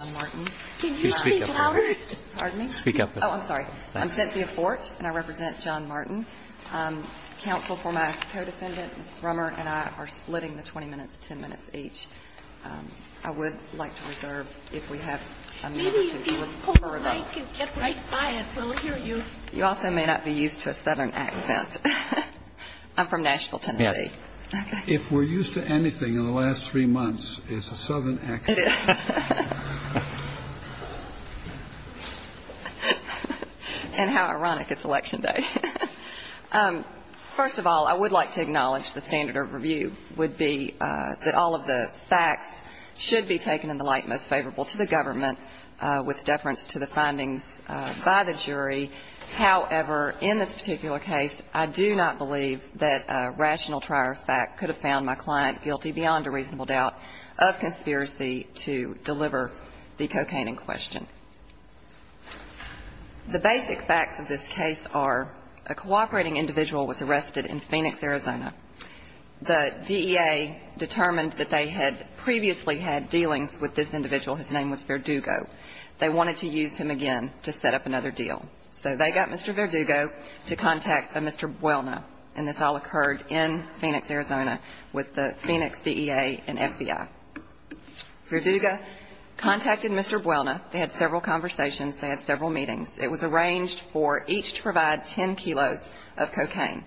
I'm Cynthia Fort and I represent John Martin. The counsel for my co-defendant, Ms. Brummer, and I are splitting the 20 minutes, 10 minutes each. I would like to reserve if we have a minute or two. You also may not be used to a southern accent. I'm from Nashville, Tennessee. If we're used to anything in the last three months, it's a southern accent. And how ironic, it's election day. First of all, I would like to acknowledge the standard of review would be that all of the facts should be taken in the light most favorable to the government with deference to the findings by the jury. However, in this particular case, I do not believe that a rational trier of fact could have found my client guilty beyond a reasonable doubt of conspiracy to deliver the cocaine in question. The basic facts of this case are a cooperating individual was arrested in Phoenix, Arizona. The DEA determined that they had previously had dealings with this individual. His name was Verdugo. They wanted to use him again to set up another deal. So they got Mr. Verdugo to contact a Mr. Buelna. And this all occurred in Phoenix, Arizona with the Phoenix DEA and FBI. Verdugo contacted Mr. Buelna. They had several conversations. They had several meetings. It was arranged for each to provide 10 kilos of cocaine.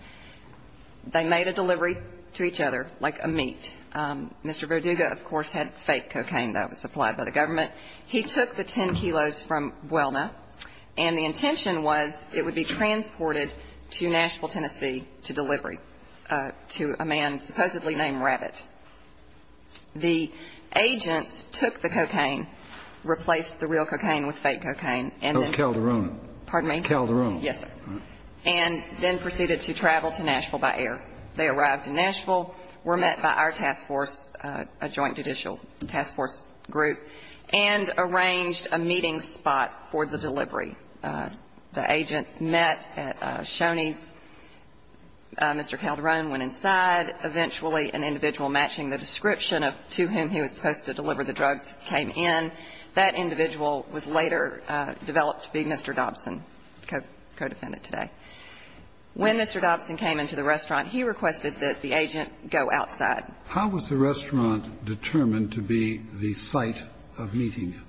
They made a delivery to each other like a meat. Mr. Verdugo, of course, had fake cocaine that was supplied by the government. He took the 10 kilos from Buelna, and the intention was it would be transported to Nashville, Tennessee, to delivery to a man supposedly named Rabbit. The agents took the cocaine, replaced the real cocaine with fake cocaine, and then... Oh, Calderon. Pardon me? Calderon. Yes, sir. And then proceeded to travel to Nashville by air. They arrived in Nashville, were met by our task force, a joint judicial task force group, and arranged a meeting spot for the delivery. The agents met at Shoney's. Mr. Calderon went inside. Eventually, an individual matching the description of to whom he was supposed to deliver the drugs came in. That individual was later developed to be Mr. Dobson, co-defendant today. When Mr. Dobson came into the restaurant, he requested that the agent go outside. How was the restaurant determined to be the site of meeting?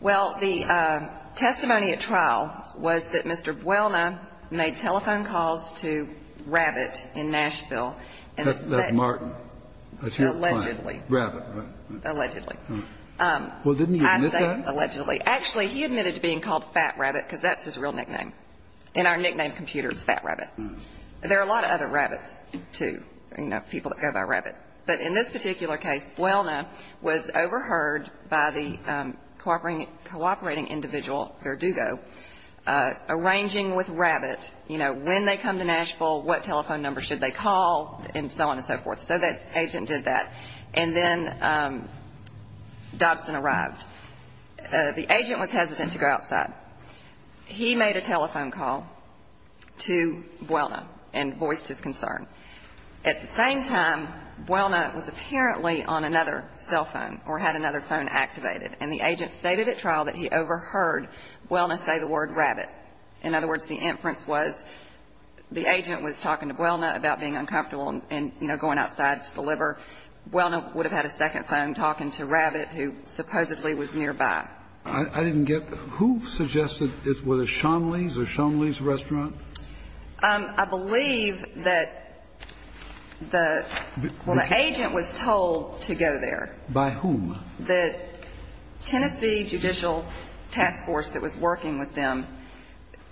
Well, the testimony at trial was that Mr. Buelna made telephone calls to Rabbit in Nashville. That's Martin. That's your client. Allegedly. Rabbit, right? Allegedly. Well, didn't he admit that? Allegedly. Actually, he admitted to being called Fat Rabbit because that's his real nickname. And our nickname computer is Fat Rabbit. There are a lot of other rabbits, too, you know, people that go by Rabbit. But in this particular case, Buelna was overheard by the cooperating individual, Verdugo, arranging with Rabbit, you know, when they come to Nashville, what telephone number should they call, and so on and so forth. So that agent did that. And then Dobson arrived. The agent was hesitant to go outside. He made a telephone call to Buelna and voiced his concern. At the same time, Buelna was apparently on another cell phone or had another phone activated. And the agent stated at trial that he overheard Buelna say the word Rabbit. In other words, the inference was the agent was talking to Buelna about being uncomfortable and, you know, going outside to deliver. Buelna would have had a second phone talking to Rabbit, who supposedly was nearby. I didn't get. Who suggested this? Was it Shonley's or Shonley's Restaurant? I believe that the agent was told to go there. By whom? The Tennessee Judicial Task Force that was working with them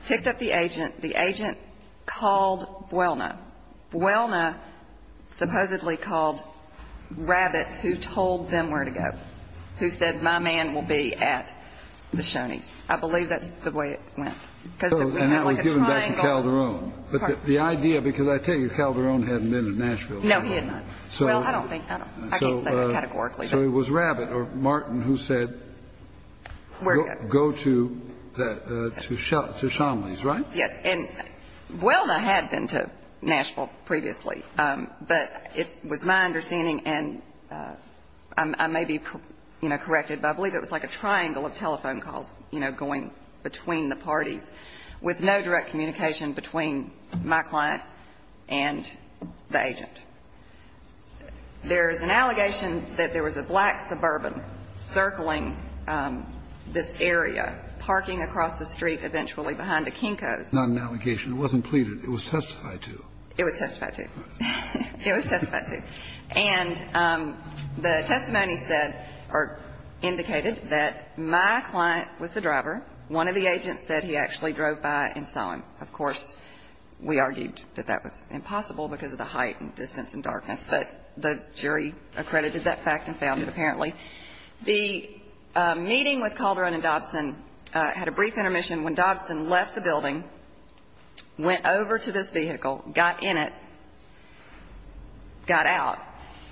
picked up the agent. The agent called Buelna. Buelna supposedly called Rabbit, who told them where to go, who said my man will be at the Shonies. I believe that's the way it went. And that was given back to Calderon. But the idea, because I tell you Calderon hadn't been to Nashville. No, he had not. Well, I don't think. I can't say that categorically. So it was Rabbit or Martin who said go to Shonley's, right? Yes. And Buelna had been to Nashville previously, but it was my understanding and I may be, you know, corrected, but I believe it was like a triangle of telephone calls, you know, going between the parties with no direct communication between my client and the agent. There is an allegation that there was a black suburban circling this area, parking across the street eventually behind a Kinko's. Not an allegation. It wasn't pleaded. It was testified to. It was testified to. It was testified to. And the testimony said or indicated that my client was the driver. One of the agents said he actually drove by and saw him. Of course, we argued that that was impossible because of the height and distance and darkness, but the jury accredited that fact and found it apparently. The meeting with Calderon and Dobson had a brief intermission. When Dobson left the building, went over to this vehicle, got in it, got out,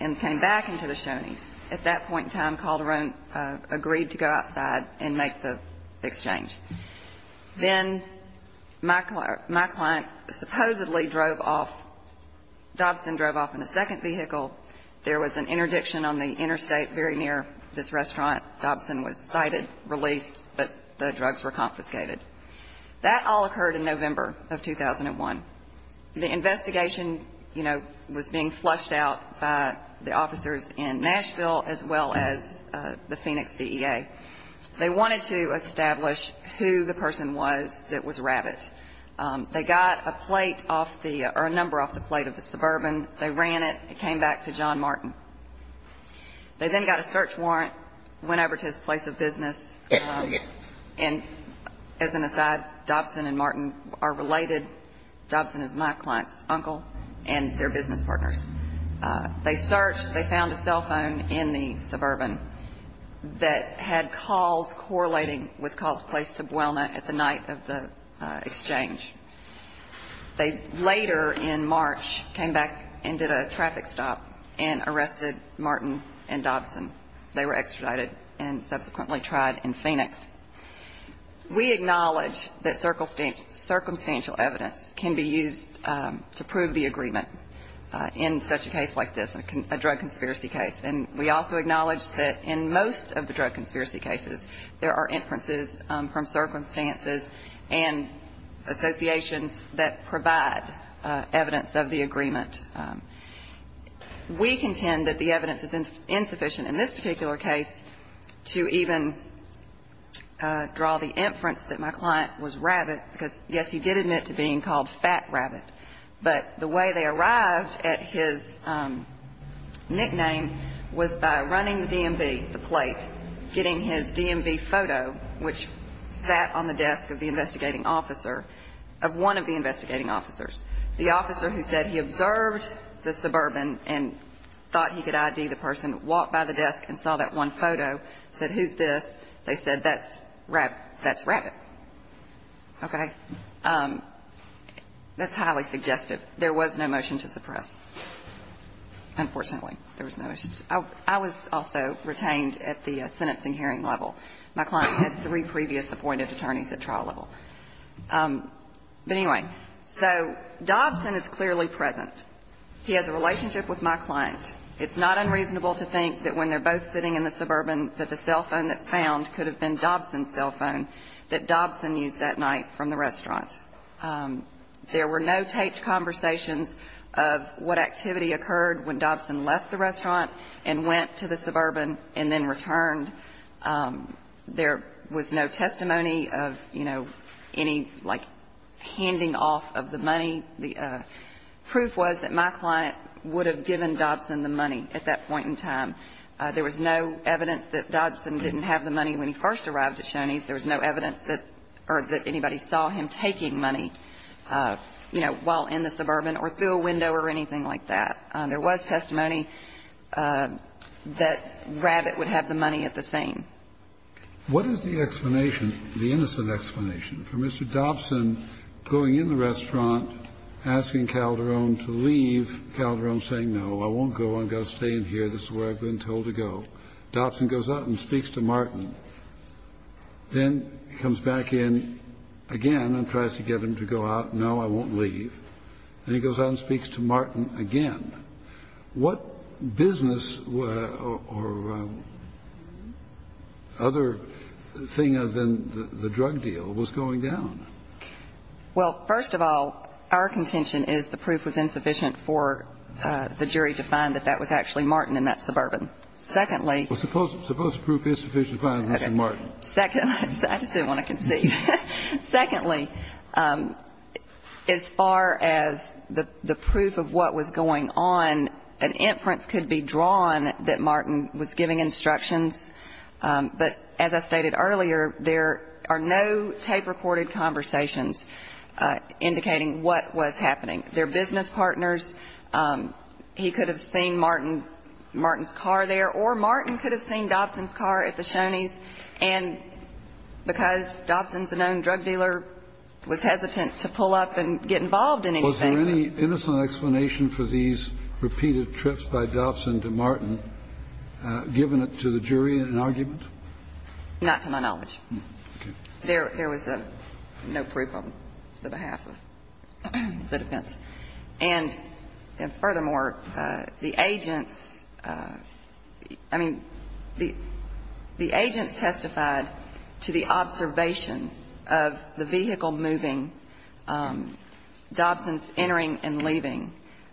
and came back into the Shoney's. At that point in time, Calderon agreed to go outside and make the exchange. Then my client supposedly drove off. Dobson drove off in a second vehicle. There was an interdiction on the interstate very near this restaurant. Dobson was cited, released, but the drugs were confiscated. That all occurred in November of 2001. The investigation, you know, was being flushed out by the officers in Nashville as well as the Phoenix CEA. They wanted to establish who the person was that was Rabbit. They got a plate off the or a number off the plate of the Suburban. They ran it. It came back to John Martin. They then got a search warrant, went over to his place of business. And as an aside, Dobson and Martin are related. Dobson is my client's uncle and they're business partners. They searched. They found a cell phone in the Suburban that had calls correlating with calls placed to Buelna at the night of the exchange. They later in March came back and did a traffic stop and arrested Martin and Dobson. They were extradited and subsequently tried in Phoenix. We acknowledge that circumstantial evidence can be used to prove the agreement in such a case like this, a drug conspiracy case. And we also acknowledge that in most of the drug conspiracy cases, there are inferences from circumstances and associations that provide evidence of the agreement. We contend that the evidence is insufficient in this particular case to even draw the inference that my client was Rabbit, because, yes, you did admit to being called Fat Rabbit, but the way they arrived at his nickname was by running the DMV, the plate, getting his DMV photo, which sat on the desk of the investigating officer, of one of the investigating officers, the officer who said he observed the Suburban and thought he could ID the person, walked by the desk and saw that one photo, said, Who's this? They said, That's Rabbit. Okay. That's highly suggestive. There was no motion to suppress. Unfortunately, there was no motion to suppress. I was also retained at the sentencing hearing level. My client had three previous appointed attorneys at trial level. But anyway, so Dobson is clearly present. He has a relationship with my client. It's not unreasonable to think that when they're both sitting in the Suburban that the cell phone that's found could have been Dobson's cell phone that Dobson used that night from the restaurant. There were no taped conversations of what activity occurred when Dobson left the restaurant and went to the Suburban and then returned. There was no testimony of, you know, any, like, handing off of the money. The proof was that my client would have given Dobson the money at that point in time. There was no evidence that Dobson didn't have the money when he first arrived at Shoney's. There was no evidence that anybody saw him taking money, you know, while in the Suburban or through a window or anything like that. There was testimony that Rabbit would have the money at the scene. What is the explanation, the innocent explanation, for Mr. Dobson going in the restaurant, asking Calderon to leave, Calderon saying, No, I won't go. I'm going to stay in here. This is where I've been told to go. Dobson goes out and speaks to Martin. Then he comes back in again and tries to get him to go out. No, I won't leave. And he goes out and speaks to Martin again. What business or other thing other than the drug deal was going down? Well, first of all, our contention is the proof was insufficient for the jury to find that that was actually Martin in that Suburban. Secondly. Well, suppose the proof is sufficient to find that it was Martin. I just didn't want to conceive. Secondly, as far as the proof of what was going on, an inference could be drawn that Martin was giving instructions. But as I stated earlier, there are no tape-recorded conversations indicating what was happening. They're business partners. He could have seen Martin's car there. Or Martin could have seen Dobson's car at the Shoney's. And because Dobson's a known drug dealer, was hesitant to pull up and get involved in anything. Was there any innocent explanation for these repeated trips by Dobson to Martin given it to the jury in an argument? Not to my knowledge. Okay. There was no proof on the behalf of the defense. And furthermore, the agents, I mean, the agents testified to the observation of the vehicle moving, Dobson's entering and leaving.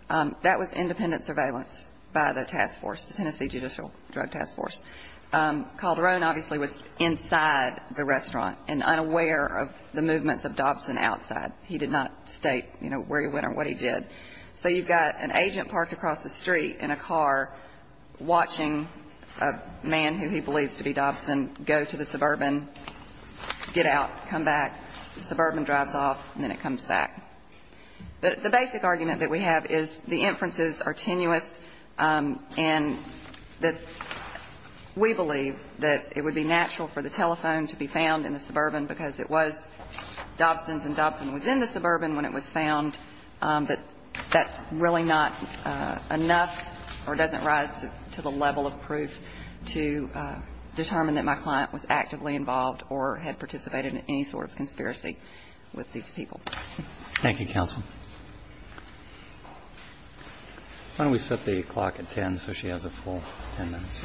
That was independent surveillance by the task force, the Tennessee Judicial Drug Task Force. Calderon obviously was inside the restaurant and unaware of the movements of Dobson outside. He did not state, you know, where he went or what he did. So you've got an agent parked across the street in a car watching a man who he believes to be Dobson go to the Suburban, get out, come back, the Suburban drives off, and then it comes back. But the basic argument that we have is the inferences are tenuous and that we believe that it would be natural for the telephone to be found in the Suburban because it was Dobson's and Dobson was in the Suburban when it was found. But that's really not enough or doesn't rise to the level of proof to determine that my client was actively involved or had participated in any sort of conspiracy Thank you, counsel. Why don't we set the clock at 10 so she has a full 10 minutes?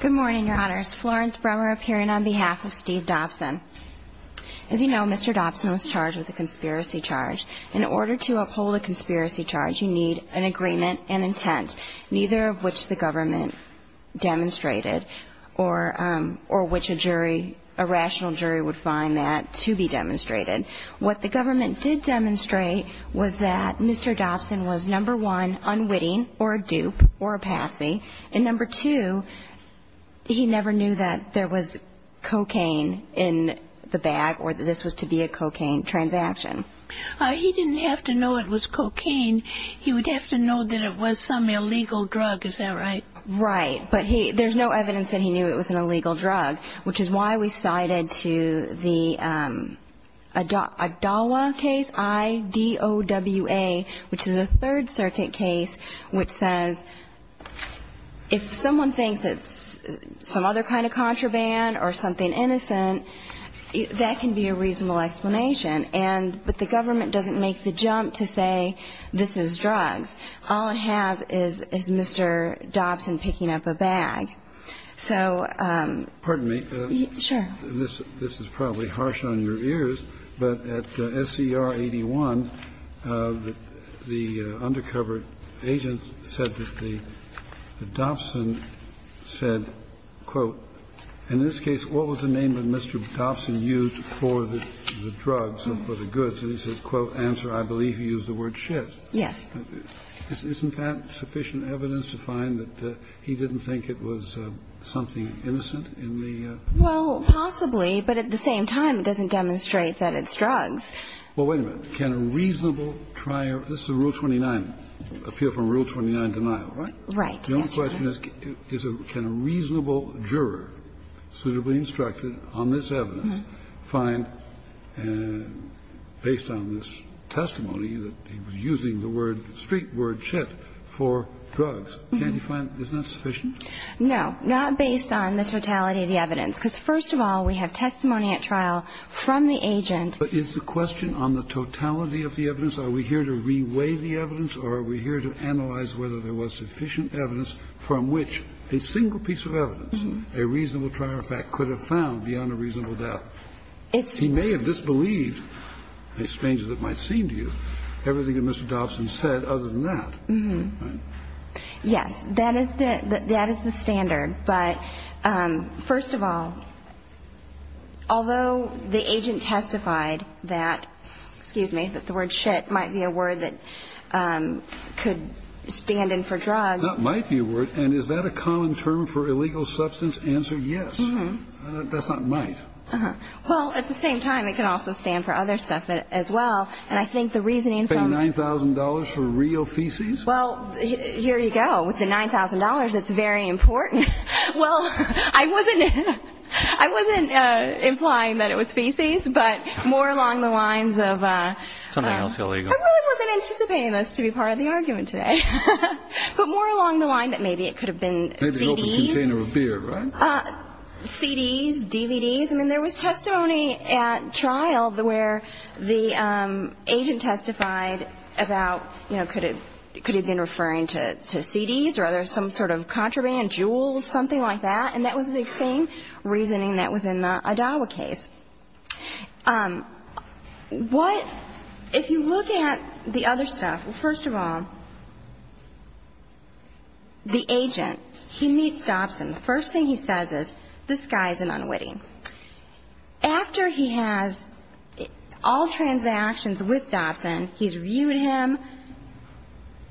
Good morning, Your Honors. Florence Bremer appearing on behalf of Steve Dobson. As you know, Mr. Dobson was charged with a conspiracy charge. In order to uphold a conspiracy charge, you need an agreement and intent, neither of which the government demonstrated or which adjudicated. A rational jury would find that to be demonstrated. What the government did demonstrate was that Mr. Dobson was, number one, unwitting or a dupe or a patsy, and number two, he never knew that there was cocaine in the bag or that this was to be a cocaine transaction. He didn't have to know it was cocaine. He would have to know that it was some illegal drug. Is that right? Right. But there's no evidence that he knew it was an illegal drug, which is why we cited to the Agdalwa case, I-D-O-W-A, which is a Third Circuit case, which says if someone thinks it's some other kind of contraband or something innocent, that can be a reasonable explanation, but the government doesn't make the jump to say this is drugs. All it has is Mr. Dobson picking up a bag. So he can't say that. Excuse me. Sure. This is probably harsh on your ears, but at SCR 81, the undercover agent said that the Dobson said, quote, in this case, what was the name that Mr. Dobson used for the drugs, for the goods? And he said, quote, answer, I believe he used the word shit. Yes. Isn't that sufficient evidence to find that he didn't think it was something innocent in the? Well, possibly, but at the same time, it doesn't demonstrate that it's drugs. Well, wait a minute. Can a reasonable trier? This is Rule 29. Appeal from Rule 29, denial, right? Right. The only question is, can a reasonable juror, suitably instructed on this evidence, find, based on this testimony, that he was using the word, street word, shit, for drugs? Can't he find? Isn't that sufficient? No. Not based on the totality of the evidence. Because, first of all, we have testimony at trial from the agent. But is the question on the totality of the evidence? Are we here to reweigh the evidence, or are we here to analyze whether there was sufficient evidence from which a single piece of evidence, a reasonable trier fact, could have been found beyond a reasonable doubt? He may have disbelieved, as strange as it might seem to you, everything that Mr. Dobson said other than that. Yes. That is the standard. But, first of all, although the agent testified that, excuse me, that the word shit might be a word that could stand in for drugs. That might be a word. And is that a common term for illegal substance? Answer, yes. That's not might. Uh-huh. Well, at the same time, it can also stand for other stuff as well. And I think the reasoning from Paying $9,000 for real feces? Well, here you go. With the $9,000, it's very important. Well, I wasn't implying that it was feces, but more along the lines of Something else illegal. I really wasn't anticipating this to be part of the argument today. But more along the line that maybe it could have been CDs. Maybe he opened a container of beer, right? CDs, DVDs. I mean, there was testimony at trial where the agent testified about, you know, could it have been referring to CDs or some sort of contraband, jewels, something like that. And that was the same reasoning that was in the Adawa case. What, if you look at the other stuff, first of all, the agent, he meets Dobson. The first thing he says is, this guy is an unwitting. After he has all transactions with Dobson, he's reviewed him.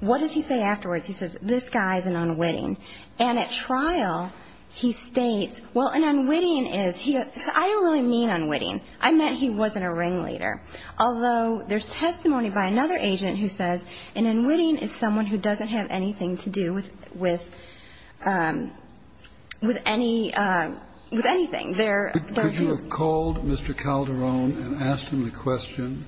What does he say afterwards? He says, this guy is an unwitting. And at trial, he states, well, an unwitting is, I don't really mean unwitting. I meant he wasn't a ringleader. Although there's testimony by another agent who says an unwitting is someone who doesn't have anything to do with, with, with any, with anything. There were two. Kennedy. Could you have called Mr. Calderon and asked him the question,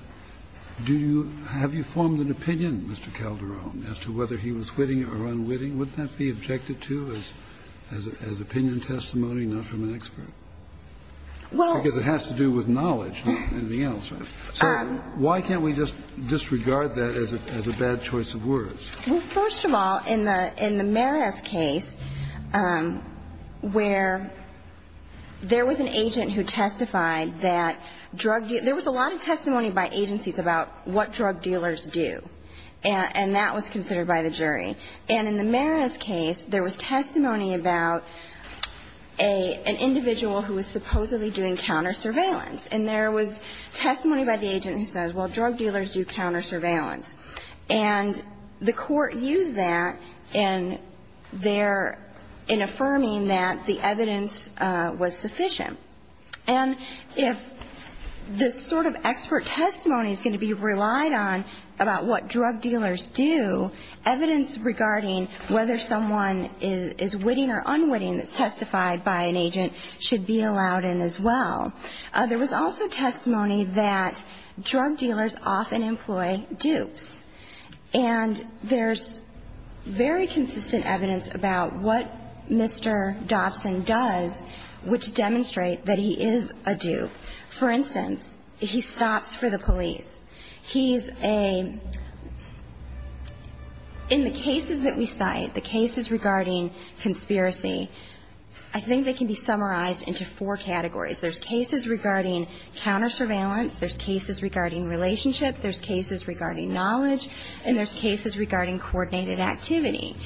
do you, have you formed an opinion, Mr. Calderon, as to whether he was witting or unwitting? Would that be objected to as opinion testimony, not from an expert? Well. Because it has to do with knowledge, not anything else. So why can't we just disregard that as a bad choice of words? Well, first of all, in the Maris case, where there was an agent who testified that drug, there was a lot of testimony by agencies about what drug dealers do. And that was considered by the jury. And in the Maris case, there was testimony about a, an individual who was supposedly doing counter surveillance. And there was testimony by the agent who says, well, drug dealers do counter surveillance. And the court used that in their, in affirming that the evidence was sufficient. And if this sort of expert testimony is going to be relied on about what drug dealers do, evidence regarding whether someone is witting or unwitting that's testified by an agent should be allowed in as well. There was also testimony that drug dealers often employ dupes. And there's very consistent evidence about what Mr. Dobson does which demonstrate that he is a dupe. For instance, he stops for the police. He's a, in the cases that we cite, the cases regarding conspiracy, I think they can be summarized into four categories. There's cases regarding counter surveillance. There's cases regarding relationship. There's cases regarding knowledge. And there's cases regarding coordinated activity.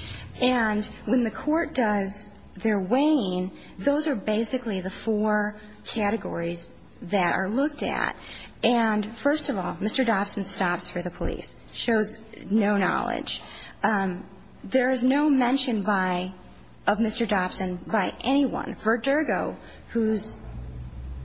And when the court does their weighing, those are basically the four categories that are looked at. And first of all, Mr. Dobson stops for the police, shows no knowledge. There is no mention by, of Mr. Dobson by anyone. Verdergo, who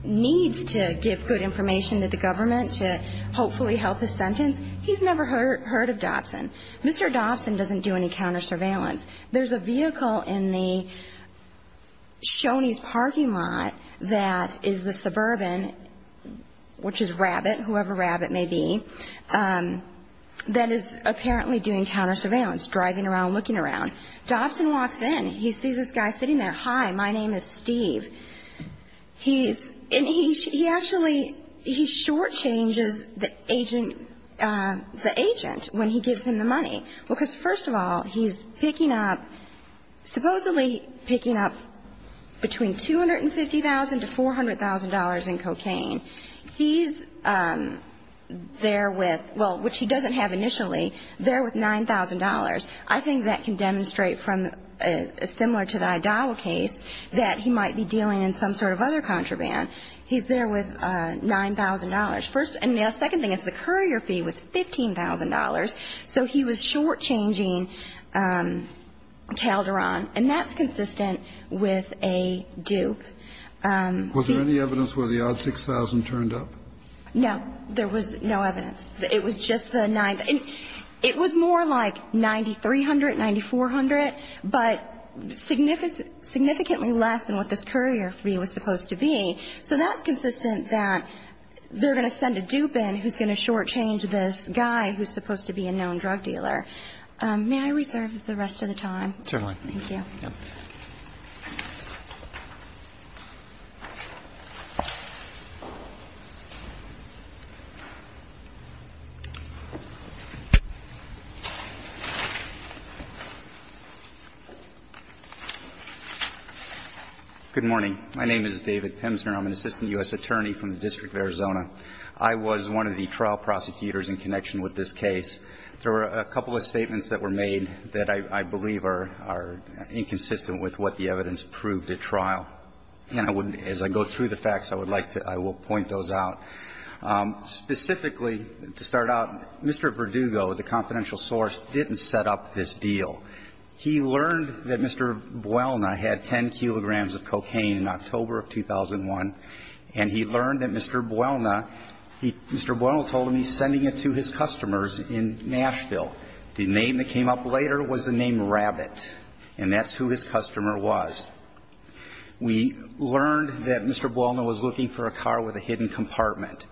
needs to give good information to the government to hopefully help his sentence, he's never heard of Dobson. Mr. Dobson doesn't do any counter surveillance. There's a vehicle in the Shoney's parking lot that is the suburban, which is Rabbit, whoever Rabbit may be, that is apparently doing counter surveillance, driving around, looking around. Dobson walks in. He sees this guy sitting there. Hi, my name is Steve. He's, and he actually, he shortchanges the agent, the agent when he gives him the money. Because first of all, he's picking up, supposedly picking up between $250,000 to $400,000 in cocaine. He's there with, well, which he doesn't have initially, there with $9,000. I think that can demonstrate from a similar to the Idawa case that he might be dealing in some sort of other contraband. He's there with $9,000. First, and the second thing is the courier fee was $15,000. So he was shortchanging Calderon. And that's consistent with a dupe. Was there any evidence where the odd $6,000 turned up? No. There was no evidence. It was just the 9th. It was more like $9,300, $9,400, but significantly less than what this courier fee was supposed to be. So that's consistent that they're going to send a dupe in who's going to shortchange this guy who's supposed to be a known drug dealer. May I reserve the rest of the time? Certainly. Thank you. Good morning. My name is David Pemsner. I'm an assistant U.S. attorney from the District of Arizona. I was one of the trial prosecutors in connection with this case. There were a couple of statements that were made that I believe are inconsistent with what the evidence proved at trial. And I would, as I go through the facts, I would like to, I will point those out. Specifically, to start out, Mr. Verdugo, the confidential source, didn't set up this deal. He learned that Mr. Buelna had 10 kilograms of cocaine in October of 2001, and he learned that Mr. Buelna, Mr. Buelna told him he's sending it to his customers in Nashville. The name that came up later was the name Rabbit, and that's who his customer was. We learned that Mr. Buelna was looking for a car with a hidden compartment.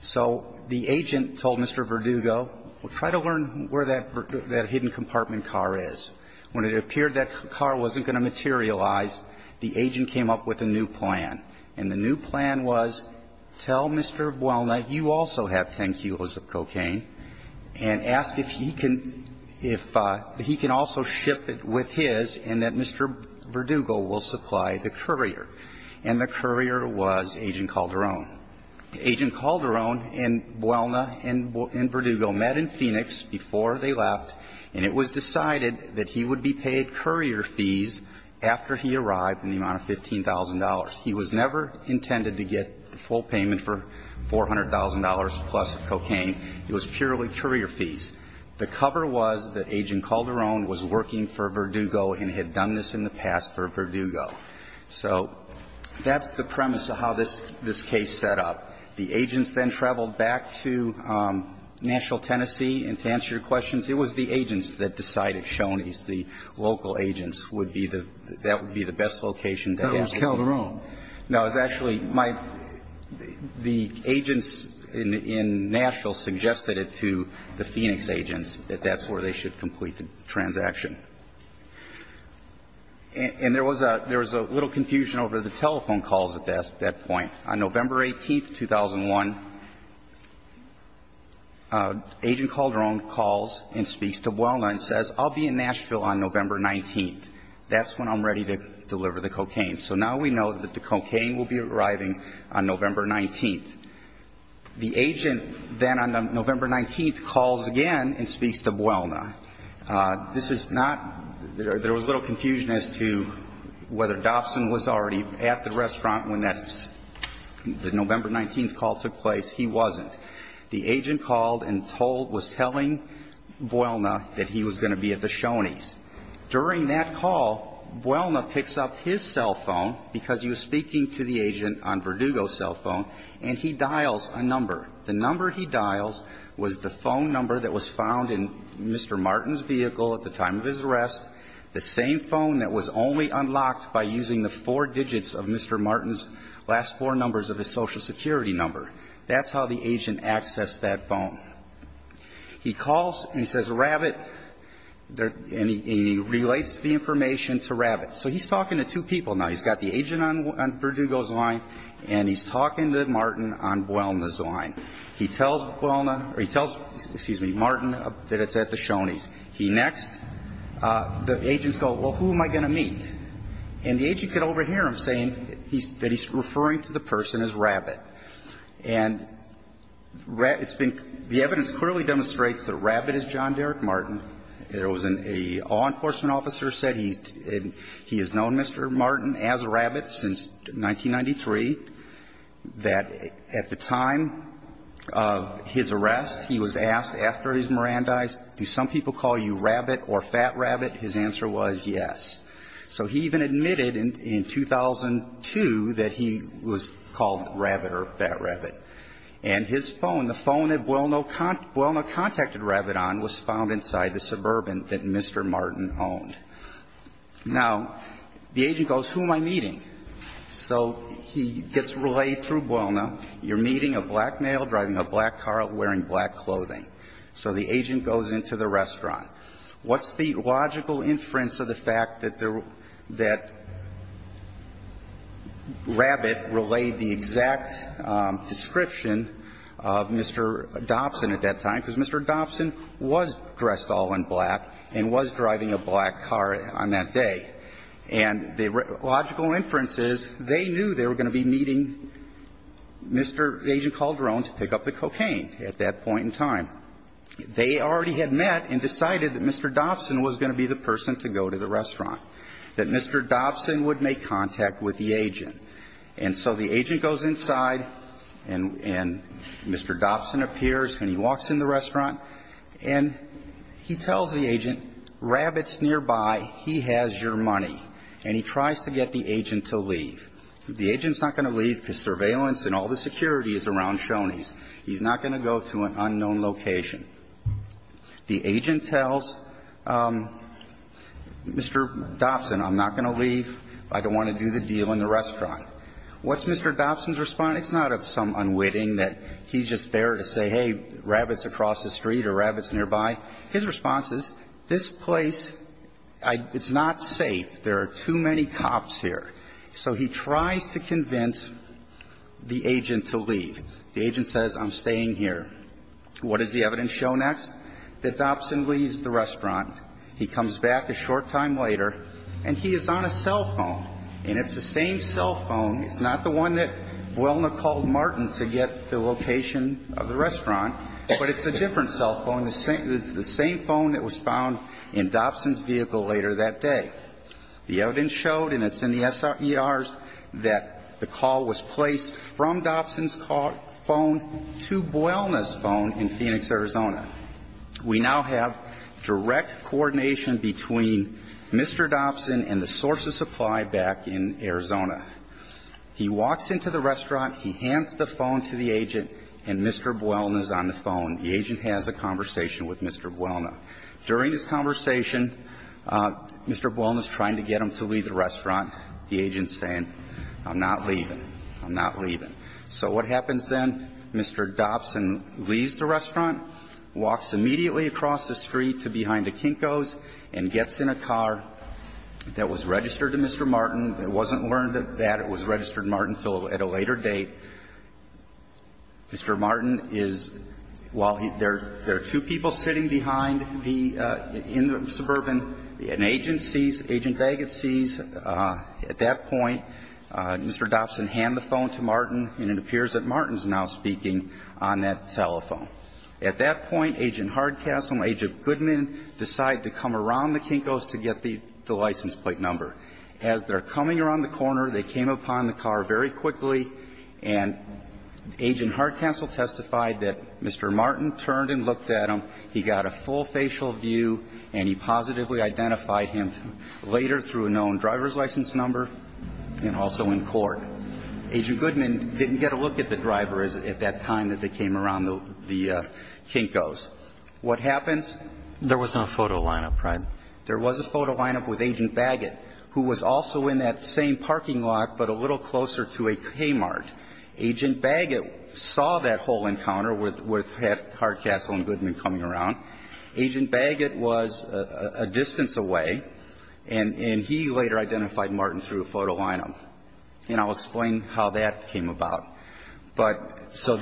So the agent told Mr. Verdugo, well, try to learn where that hidden compartment car is. When it appeared that car wasn't going to materialize, the agent came up with a new plan, and the new plan was tell Mr. Buelna you also have 10 kilos of cocaine and ask if he can, if he can also ship it with his and that Mr. Verdugo will supply the courier. And the courier was Agent Calderon. Agent Calderon and Buelna and Verdugo met in Phoenix before they left, and it was decided that he would be paid courier fees after he arrived in the amount of $15,000. He was never intended to get the full payment for $400,000 plus of cocaine. It was purely courier fees. The cover was that Agent Calderon was working for Verdugo and had done this in the past for Verdugo. So that's the premise of how this case set up. The agents then traveled back to Nashville, Tennessee, and to answer your questions, it was the agents that decided, Shoney's, the local agents would be the, that would be the best location. That was Calderon. No, it was actually my, the agents in Nashville suggested it to the Phoenix agents that that's where they should complete the transaction. And there was a little confusion over the telephone calls at that point. On November 18th, 2001, Agent Calderon calls and speaks to Buelna and says, I'll be in Nashville on November 19th. That's when I'm ready to deliver the cocaine. So now we know that the cocaine will be arriving on November 19th. The agent then on November 19th calls again and speaks to Buelna. This is not, there was a little confusion as to whether Dobson was already at the restaurant when that, the November 19th call took place. He wasn't. The agent called and told, was telling Buelna that he was going to be at the Shoney's. During that call, Buelna picks up his cell phone, because he was speaking to the agent on Verdugo's cell phone, and he dials a number. The number he dials was the phone number that was found in Mr. Martin's vehicle at the time of his arrest, the same phone that was only unlocked by using the four digits of Mr. Martin's last four numbers of his Social Security number. That's how the agent accessed that phone. He calls and says, Rabbit, and he relates the information to Rabbit. So he's talking to two people now. He's got the agent on Verdugo's line, and he's talking to Martin on Buelna's line. He tells Buelna, or he tells, excuse me, Martin that it's at the Shoney's. He next, the agents go, well, who am I going to meet? And the agent could overhear him saying that he's referring to the person as Rabbit. And it's been, the evidence clearly demonstrates that Rabbit is John Derek Martin. There was an, a law enforcement officer said he's, he has known Mr. Martin as Rabbit since 1993, that at the time of his arrest, he was asked after his Mirandize, do some people call you Rabbit or Fat Rabbit? His answer was yes. So he even admitted in 2002 that he was called Rabbit or Fat Rabbit. And his phone, the phone that Buelna contacted Rabbit on was found inside the Suburban that Mr. Martin owned. Now, the agent goes, who am I meeting? So he gets relayed through Buelna. You're meeting a black male driving a black car wearing black clothing. So the agent goes into the restaurant. What's the logical inference of the fact that the, that Rabbit relayed the exact description of Mr. Dobson at that time? Because Mr. Dobson was dressed all in black and was driving a black car on that day. And the logical inference is they knew they were going to be meeting Mr. Agent Calderon to pick up the cocaine at that point in time. They already had met and decided that Mr. Dobson was going to be the person to go to the restaurant, that Mr. Dobson would make contact with the agent. And so the agent goes inside and Mr. Dobson appears and he walks in the restaurant and he tells the agent, Rabbit's nearby, he has your money. And he tries to get the agent to leave. The agent's not going to leave because surveillance and all the security is around Shoney's. He's not going to go to an unknown location. The agent tells Mr. Dobson, I'm not going to leave. I don't want to do the deal in the restaurant. What's Mr. Dobson's response? It's not some unwitting that he's just there to say, hey, Rabbit's across the street or Rabbit's nearby. His response is, this place, it's not safe. There are too many cops here. So he tries to convince the agent to leave. The agent says, I'm staying here. What does the evidence show next? That Dobson leaves the restaurant. He comes back a short time later and he is on a cell phone. And it's the same cell phone. It's not the one that Buolna called Martin to get the location of the restaurant, but it's a different cell phone. It's the same phone that was found in Dobson's vehicle later that day. The evidence showed, and it's in the SRERs, that the call was placed from Dobson's cell phone to Buolna's phone in Phoenix, Arizona. We now have direct coordination between Mr. Dobson and the source of supply back in Arizona. He walks into the restaurant. He hands the phone to the agent, and Mr. Buolna's on the phone. The agent has a conversation with Mr. Buolna. During this conversation, Mr. Buolna's trying to get him to leave the restaurant. The agent's saying, I'm not leaving. I'm not leaving. So what happens then? Mr. Dobson leaves the restaurant, walks immediately across the street to behind the Kinko's, and gets in a car that was registered to Mr. Martin. It wasn't learned that it was registered to Martin until at a later date. Mr. Martin is, while there are two people sitting behind the, in the suburban, an agent sees, Agent Bagot sees, at that point, Mr. Dobson hand the phone to Martin and it appears that Martin's now speaking on that telephone. At that point, Agent Hardcastle and Agent Goodman decide to come around the Kinko's to get the license plate number. As they're coming around the corner, they came upon the car very quickly, and Agent Hardcastle testified that Mr. Martin turned and looked at him. He got a full facial view, and he positively identified him later through a known driver's license number and also in court. Agent Goodman didn't get a look at the driver at that time that they came around the Kinko's. What happens? There was no photo lineup, right? There was a photo lineup with Agent Bagot, who was also in that same parking lot but a little closer to a Kmart. Agent Bagot saw that whole encounter with Hardcastle and Goodman coming around. Agent Bagot was a distance away, and he later identified Martin through a photo lineup. And I'll explain how that came about. But so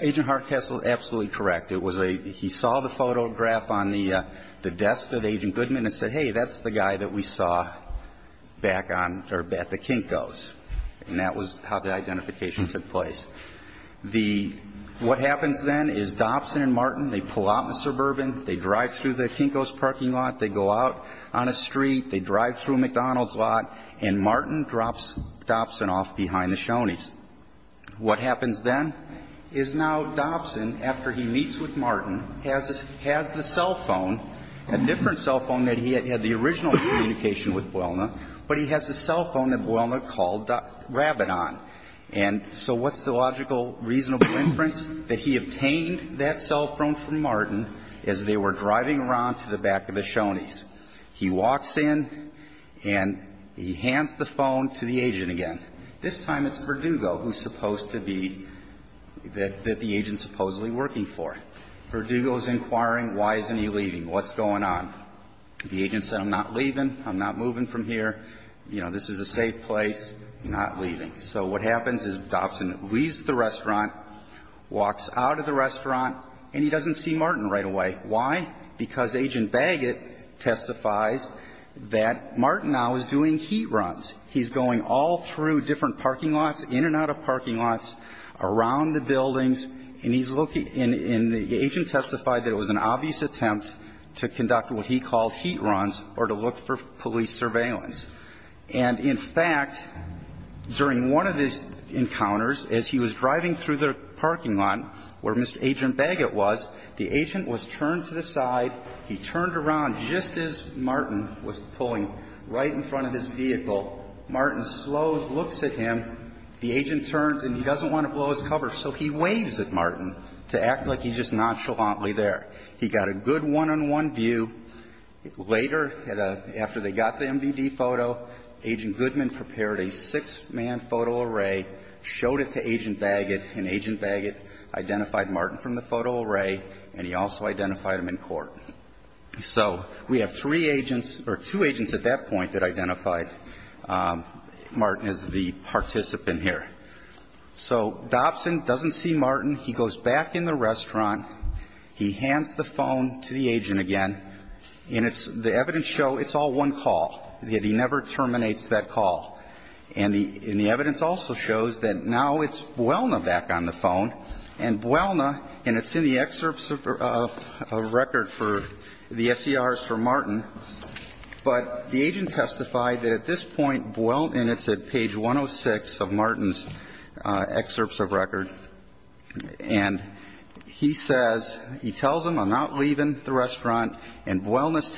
Agent Hardcastle is absolutely correct. It was a he saw the photograph on the desk of Agent Goodman and said, hey, that's the guy that we saw back on or at the Kinko's. And that was how the identification took place. The what happens then is Dobson and Martin, they pull out in the suburban, they drive through the Kinko's parking lot, they go out on a street, they drive through McDonald's lot, and Martin drops Dobson off behind the Shoney's. What happens then is now Dobson, after he meets with Martin, has the cell phone, a different cell phone that he had had the original communication with Boelner, but he has a cell phone that Boelner called Rabbit on. And so what's the logical, reasonable inference? That he obtained that cell phone from Martin as they were driving around to the back of the Shoney's. He walks in and he hands the phone to the agent again. This time it's Verdugo who's supposed to be, that the agent's supposedly working for. Verdugo's inquiring why isn't he leaving, what's going on. The agent said, I'm not leaving, I'm not moving from here, you know, this is a safe place, not leaving. So what happens is Dobson leaves the restaurant, walks out of the restaurant, and he doesn't see Martin right away. Why? Because Agent Baggett testifies that Martin now is doing heat runs. He's going all through different parking lots, in and out of parking lots, around the buildings, and he's looking, and the agent testified that it was an obvious attempt to conduct what he called heat runs or to look for police surveillance. And in fact, during one of his encounters, as he was driving through the parking lot, where Mr. Agent Baggett was, the agent was turned to the side, he turned around just as Martin was pulling right in front of his vehicle. Martin slows, looks at him. The agent turns and he doesn't want to blow his cover, so he waves at Martin to act like he's just nonchalantly there. He got a good one-on-one view. Later, after they got the MVD photo, Agent Goodman prepared a six-man photo array, showed it to Agent Baggett, and Agent Baggett identified Martin from the photo array, and he also identified him in court. So we have three agents or two agents at that point that identified Martin as the participant here. So Dobson doesn't see Martin. He goes back in the restaurant. He hands the phone to the agent again, and it's the evidence show it's all one call. He never terminates that call. And the evidence also shows that now it's Buelna back on the phone. And Buelna, and it's in the excerpts of record for the SCRs for Martin, but the agent testified that at this point Buelna, and it's at page 106 of Martin's excerpts of record, and he says, he tells him, I'm not leaving the restaurant, and Buelna's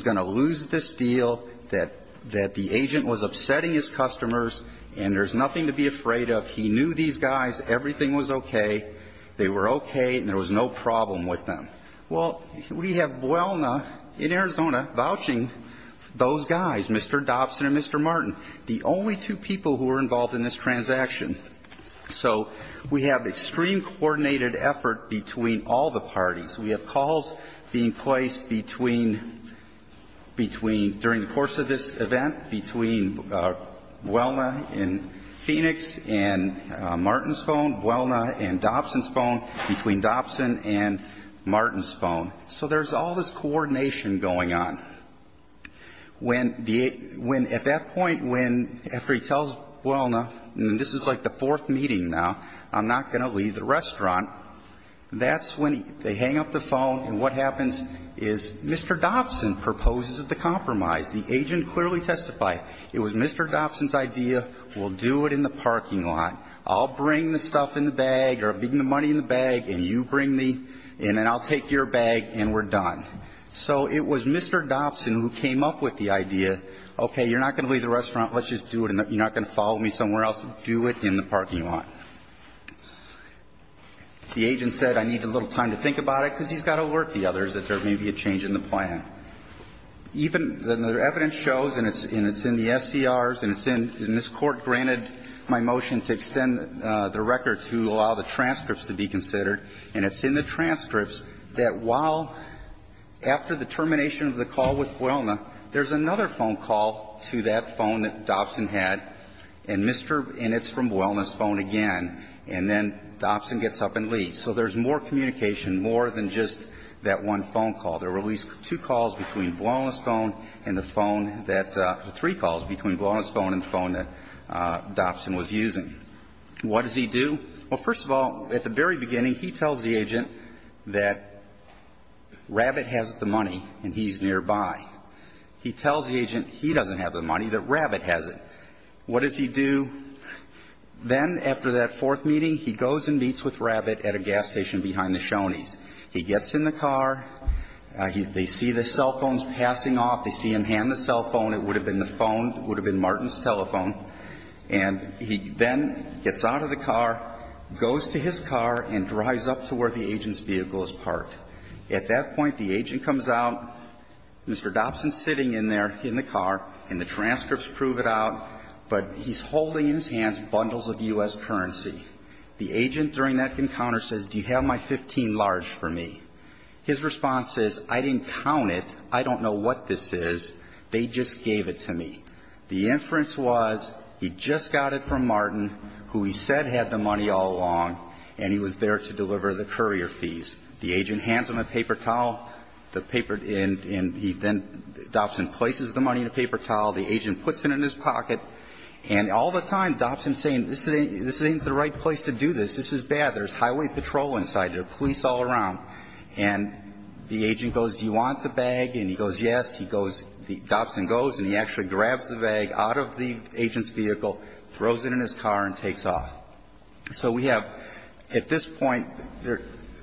going to lose this deal, that the agent was upsetting his customers, and there's nothing to be afraid of. He knew these guys. Everything was okay. They were okay, and there was no problem with them. Well, we have Buelna in Arizona vouching those guys, Mr. Dobson and Mr. Martin, the only two people who were involved in this transaction. So we have extreme coordinated effort between all the parties. We have calls being placed between, between, during the course of this event, between Buelna in Phoenix and Martin's phone, Buelna in Dobson's phone, between Dobson and Martin's phone. So there's all this coordination going on. When the, when at that point, when, after he tells Buelna, and this is like the fourth meeting now, I'm not going to leave the restaurant, that's when they hang up the phone, and what happens is Mr. Dobson proposes the compromise. The agent clearly testified. It was Mr. Dobson's idea, we'll do it in the parking lot. I'll bring the stuff in the bag or bring the money in the bag, and you bring me, and then I'll take your bag, and we're done. So it was Mr. Dobson who came up with the idea, okay, you're not going to leave the restaurant, let's just do it, and you're not going to follow me somewhere else, do it in the parking lot. The agent said, I need a little time to think about it, because he's got to alert the others that there may be a change in the plan. Even the evidence shows, and it's in the SCRs, and it's in, and this Court granted my motion to extend the record to allow the transcripts to be considered, and it's in the transcripts that while, after the termination of the call with Buelna, there's another phone call to that phone that Dobson had, and Mr. And it's from Buelna's phone again, and then Dobson gets up and leaves. So there's more communication, more than just that one phone call. There were at least two calls between Buelna's phone and the phone that, three calls between Buelna's phone and the phone that Dobson was using. What does he do? Well, first of all, at the very beginning, he tells the agent that Rabbit has the money and he's nearby. He tells the agent he doesn't have the money, that Rabbit has it. What does he do? Then, after that fourth meeting, he goes and meets with Rabbit at a gas station behind the Shoney's. He gets in the car. They see the cell phones passing off. They see him hand the cell phone. It would have been the phone. It would have been Martin's telephone. And he then gets out of the car, goes to his car, and drives up to where the agent's vehicle is parked. At that point, the agent comes out. Mr. Dobson's sitting in there in the car, and the transcripts prove it out, but he's holding in his hands bundles of U.S. currency. The agent, during that encounter, says, do you have my 15 large for me? His response is, I didn't count it. I don't know what this is. They just gave it to me. The inference was, he just got it from Martin, who he said had the money all along, and he was there to deliver the courier fees. The agent hands him a paper towel, the paper, and he then, Dobson places the money in a paper towel. The agent puts it in his pocket. And all the time, Dobson's saying, this isn't the right place to do this. This is bad. There's highway patrol inside. There's police all around. And the agent goes, do you want the bag? And he goes, yes. He goes, Dobson goes, and he actually grabs the bag out of the agent's vehicle, throws it in his car, and takes off. So we have, at this point,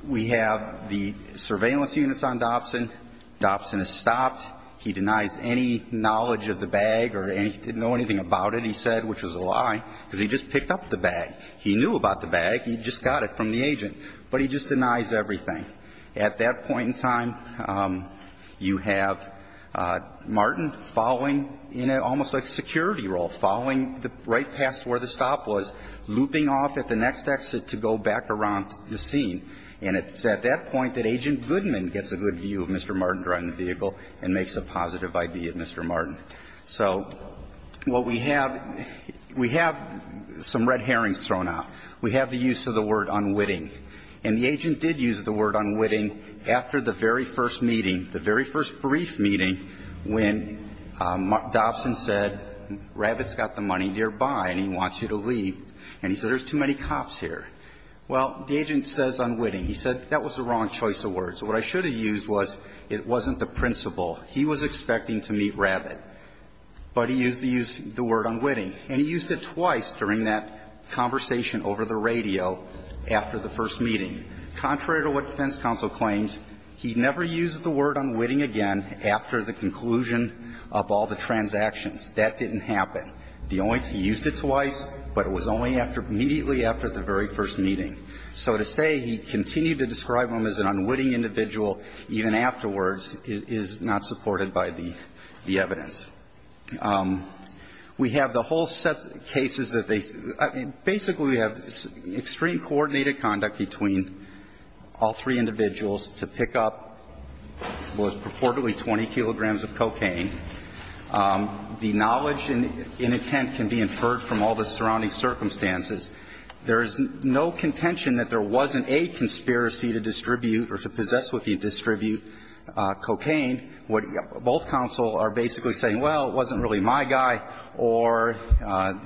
we have the surveillance units on Dobson. Dobson is stopped. He denies any knowledge of the bag or he didn't know anything about it, he said, which was a lie, because he just picked up the bag. He knew about the bag. He just got it from the agent. But he just denies everything. At that point in time, you have Martin following in almost a security role, following right past where the stop was, looping off at the next exit to go back around the scene. And it's at that point that Agent Goodman gets a good view of Mr. Martin driving the vehicle and makes a positive ID of Mr. Martin. So what we have, we have some red herrings thrown out. We have the use of the word unwitting. And the agent did use the word unwitting after the very first meeting, the very first brief meeting, when Dobson said, Rabbit's got the money nearby and he wants you to leave. And he said, there's too many cops here. Well, the agent says unwitting. He said, that was the wrong choice of words. What I should have used was, it wasn't the principle. He was expecting to meet Rabbit. But he used the word unwitting. And he used it twice during that conversation over the radio after the first meeting. Contrary to what defense counsel claims, he never used the word unwitting again after the conclusion of all the transactions. That didn't happen. The only thing, he used it twice, but it was only immediately after the very first meeting. So to say he continued to describe him as an unwitting individual even afterwards is not supported by the evidence. We have the whole set of cases that they see. Basically, we have extreme coordinated conduct between all three individuals to pick up what was purportedly 20 kilograms of cocaine. The knowledge and intent can be inferred from all the surrounding circumstances. There is no contention that there wasn't a conspiracy to distribute or to possess with the distribute cocaine. Both counsel are basically saying, well, it wasn't really my guy, or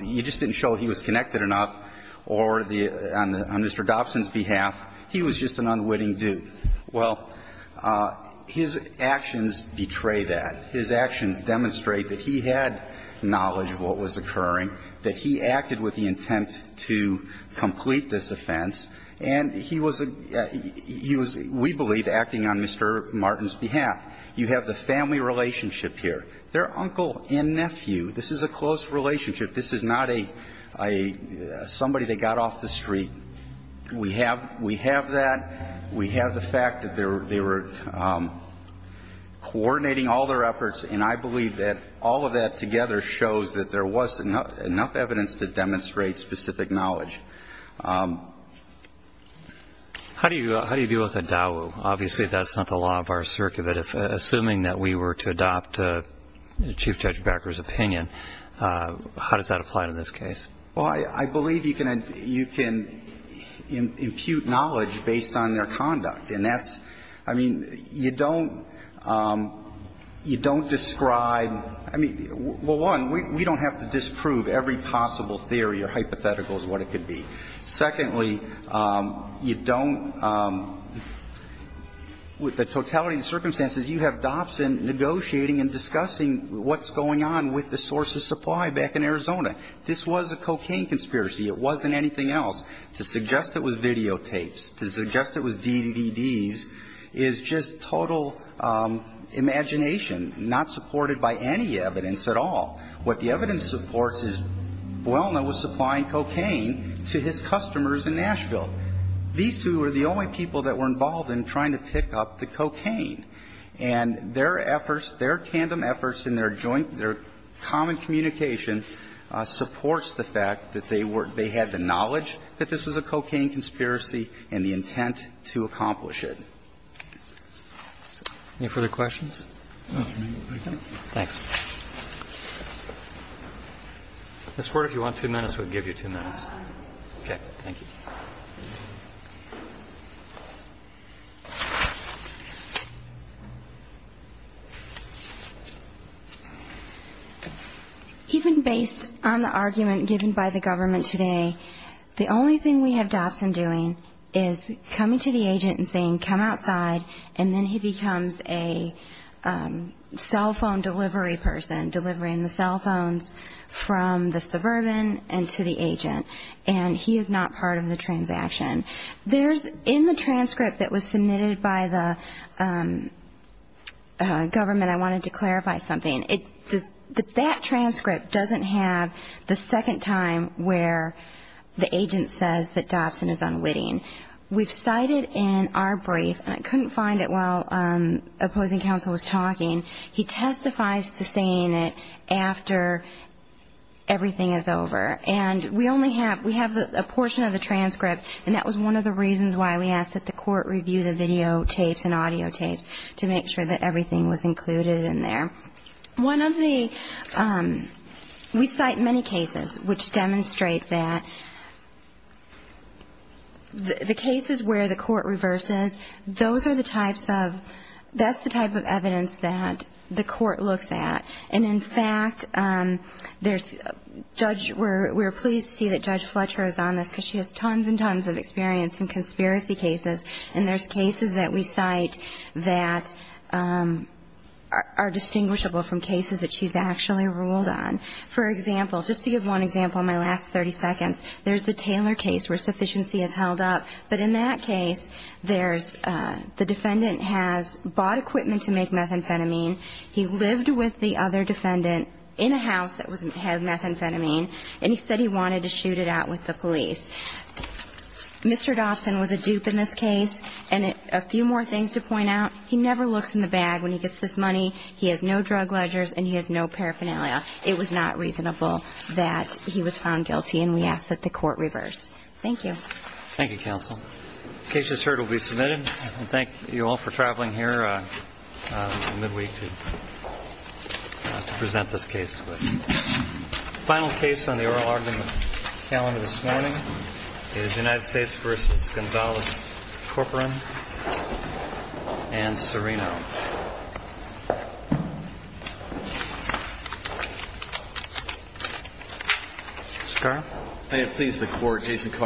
you just didn't show he was connected enough, or on Mr. Dobson's behalf, he was just an unwitting dude. Well, his actions betray that. His actions demonstrate that he had knowledge of what was occurring, that he acted with the intent to complete this offense, and he was a – he was, we believe, acting on Mr. Martin's behalf. You have the family relationship here. They're uncle and nephew. This is a close relationship. This is not a – somebody that got off the street. We have that. We have the fact that they were coordinating all their efforts, and I believe that all of that together shows that there was enough evidence to demonstrate specific knowledge. How do you deal with a DAWU? Obviously, that's not the law of our circuit. But assuming that we were to adopt Chief Judge Becker's opinion, how does that apply to this case? Well, I believe you can impute knowledge based on their conduct, and that's – I mean, you don't describe – I mean, well, one, we don't have to disprove every possible theory or hypothetical as what it could be. Secondly, you don't – with the totality of the circumstances, you have Dobson negotiating and discussing what's going on with the source of supply back in Arizona. This was a cocaine conspiracy. It wasn't anything else. To suggest it was videotapes, to suggest it was DVDs is just total imagination, not supported by any evidence at all. What the evidence supports is Buolna was supplying cocaine to his customers in Nashville. These two were the only people that were involved in trying to pick up the cocaine. And their efforts, their tandem efforts and their joint – their common communication supports the fact that they were – they had the knowledge that this was a cocaine conspiracy and the intent to accomplish it. Any further questions? Thanks. Ms. Ford, if you want two minutes, we'll give you two minutes. Okay. Thank you. Even based on the argument given by the government today, the only thing we have Dobson doing is coming to the agent and saying, come outside, and then he becomes a cell phone delivery person, delivering the cell phones from the suburban and to the agent. And he is not part of the transaction. There's – in the transcript that was submitted by the government, I wanted to clarify something. That transcript doesn't have the second time where the agent says that Dobson is unwitting. We've cited in our brief, and I couldn't find it while opposing counsel was talking, he testifies to saying it after everything is over. And we only have – we have a portion of the transcript, and that was one of the reasons why we asked that the court review the videotapes and audiotapes, to make sure that everything was included in there. One of the – we cite many cases which demonstrate that the cases where the court reverses, those are the types of – that's the type of evidence that the court looks at. And, in fact, there's – Judge – we're pleased to see that Judge Fletcher is on this, because she has tons and tons of experience in conspiracy cases. And there's cases that we cite that are distinguishable from cases that she's actually ruled on. For example, just to give one example in my last 30 seconds, there's the Taylor case where sufficiency is held up. But in that case, there's – the defendant has bought equipment to make methamphetamine. He lived with the other defendant in a house that had methamphetamine, and he said he wanted to shoot it out with the police. Mr. Dobson was a dupe in this case. And a few more things to point out. He never looks in the bag when he gets this money. He has no drug ledgers, and he has no paraphernalia. It was not reasonable that he was found guilty, and we ask that the court reverse. Thank you. Thank you, counsel. The case just heard will be submitted. And thank you all for traveling here midweek to present this case to us. The final case on the oral argument calendar this morning is United States v. Gonzalez-Corporan and Serino. Mr. Carr? May it please the Court, Jason Carr.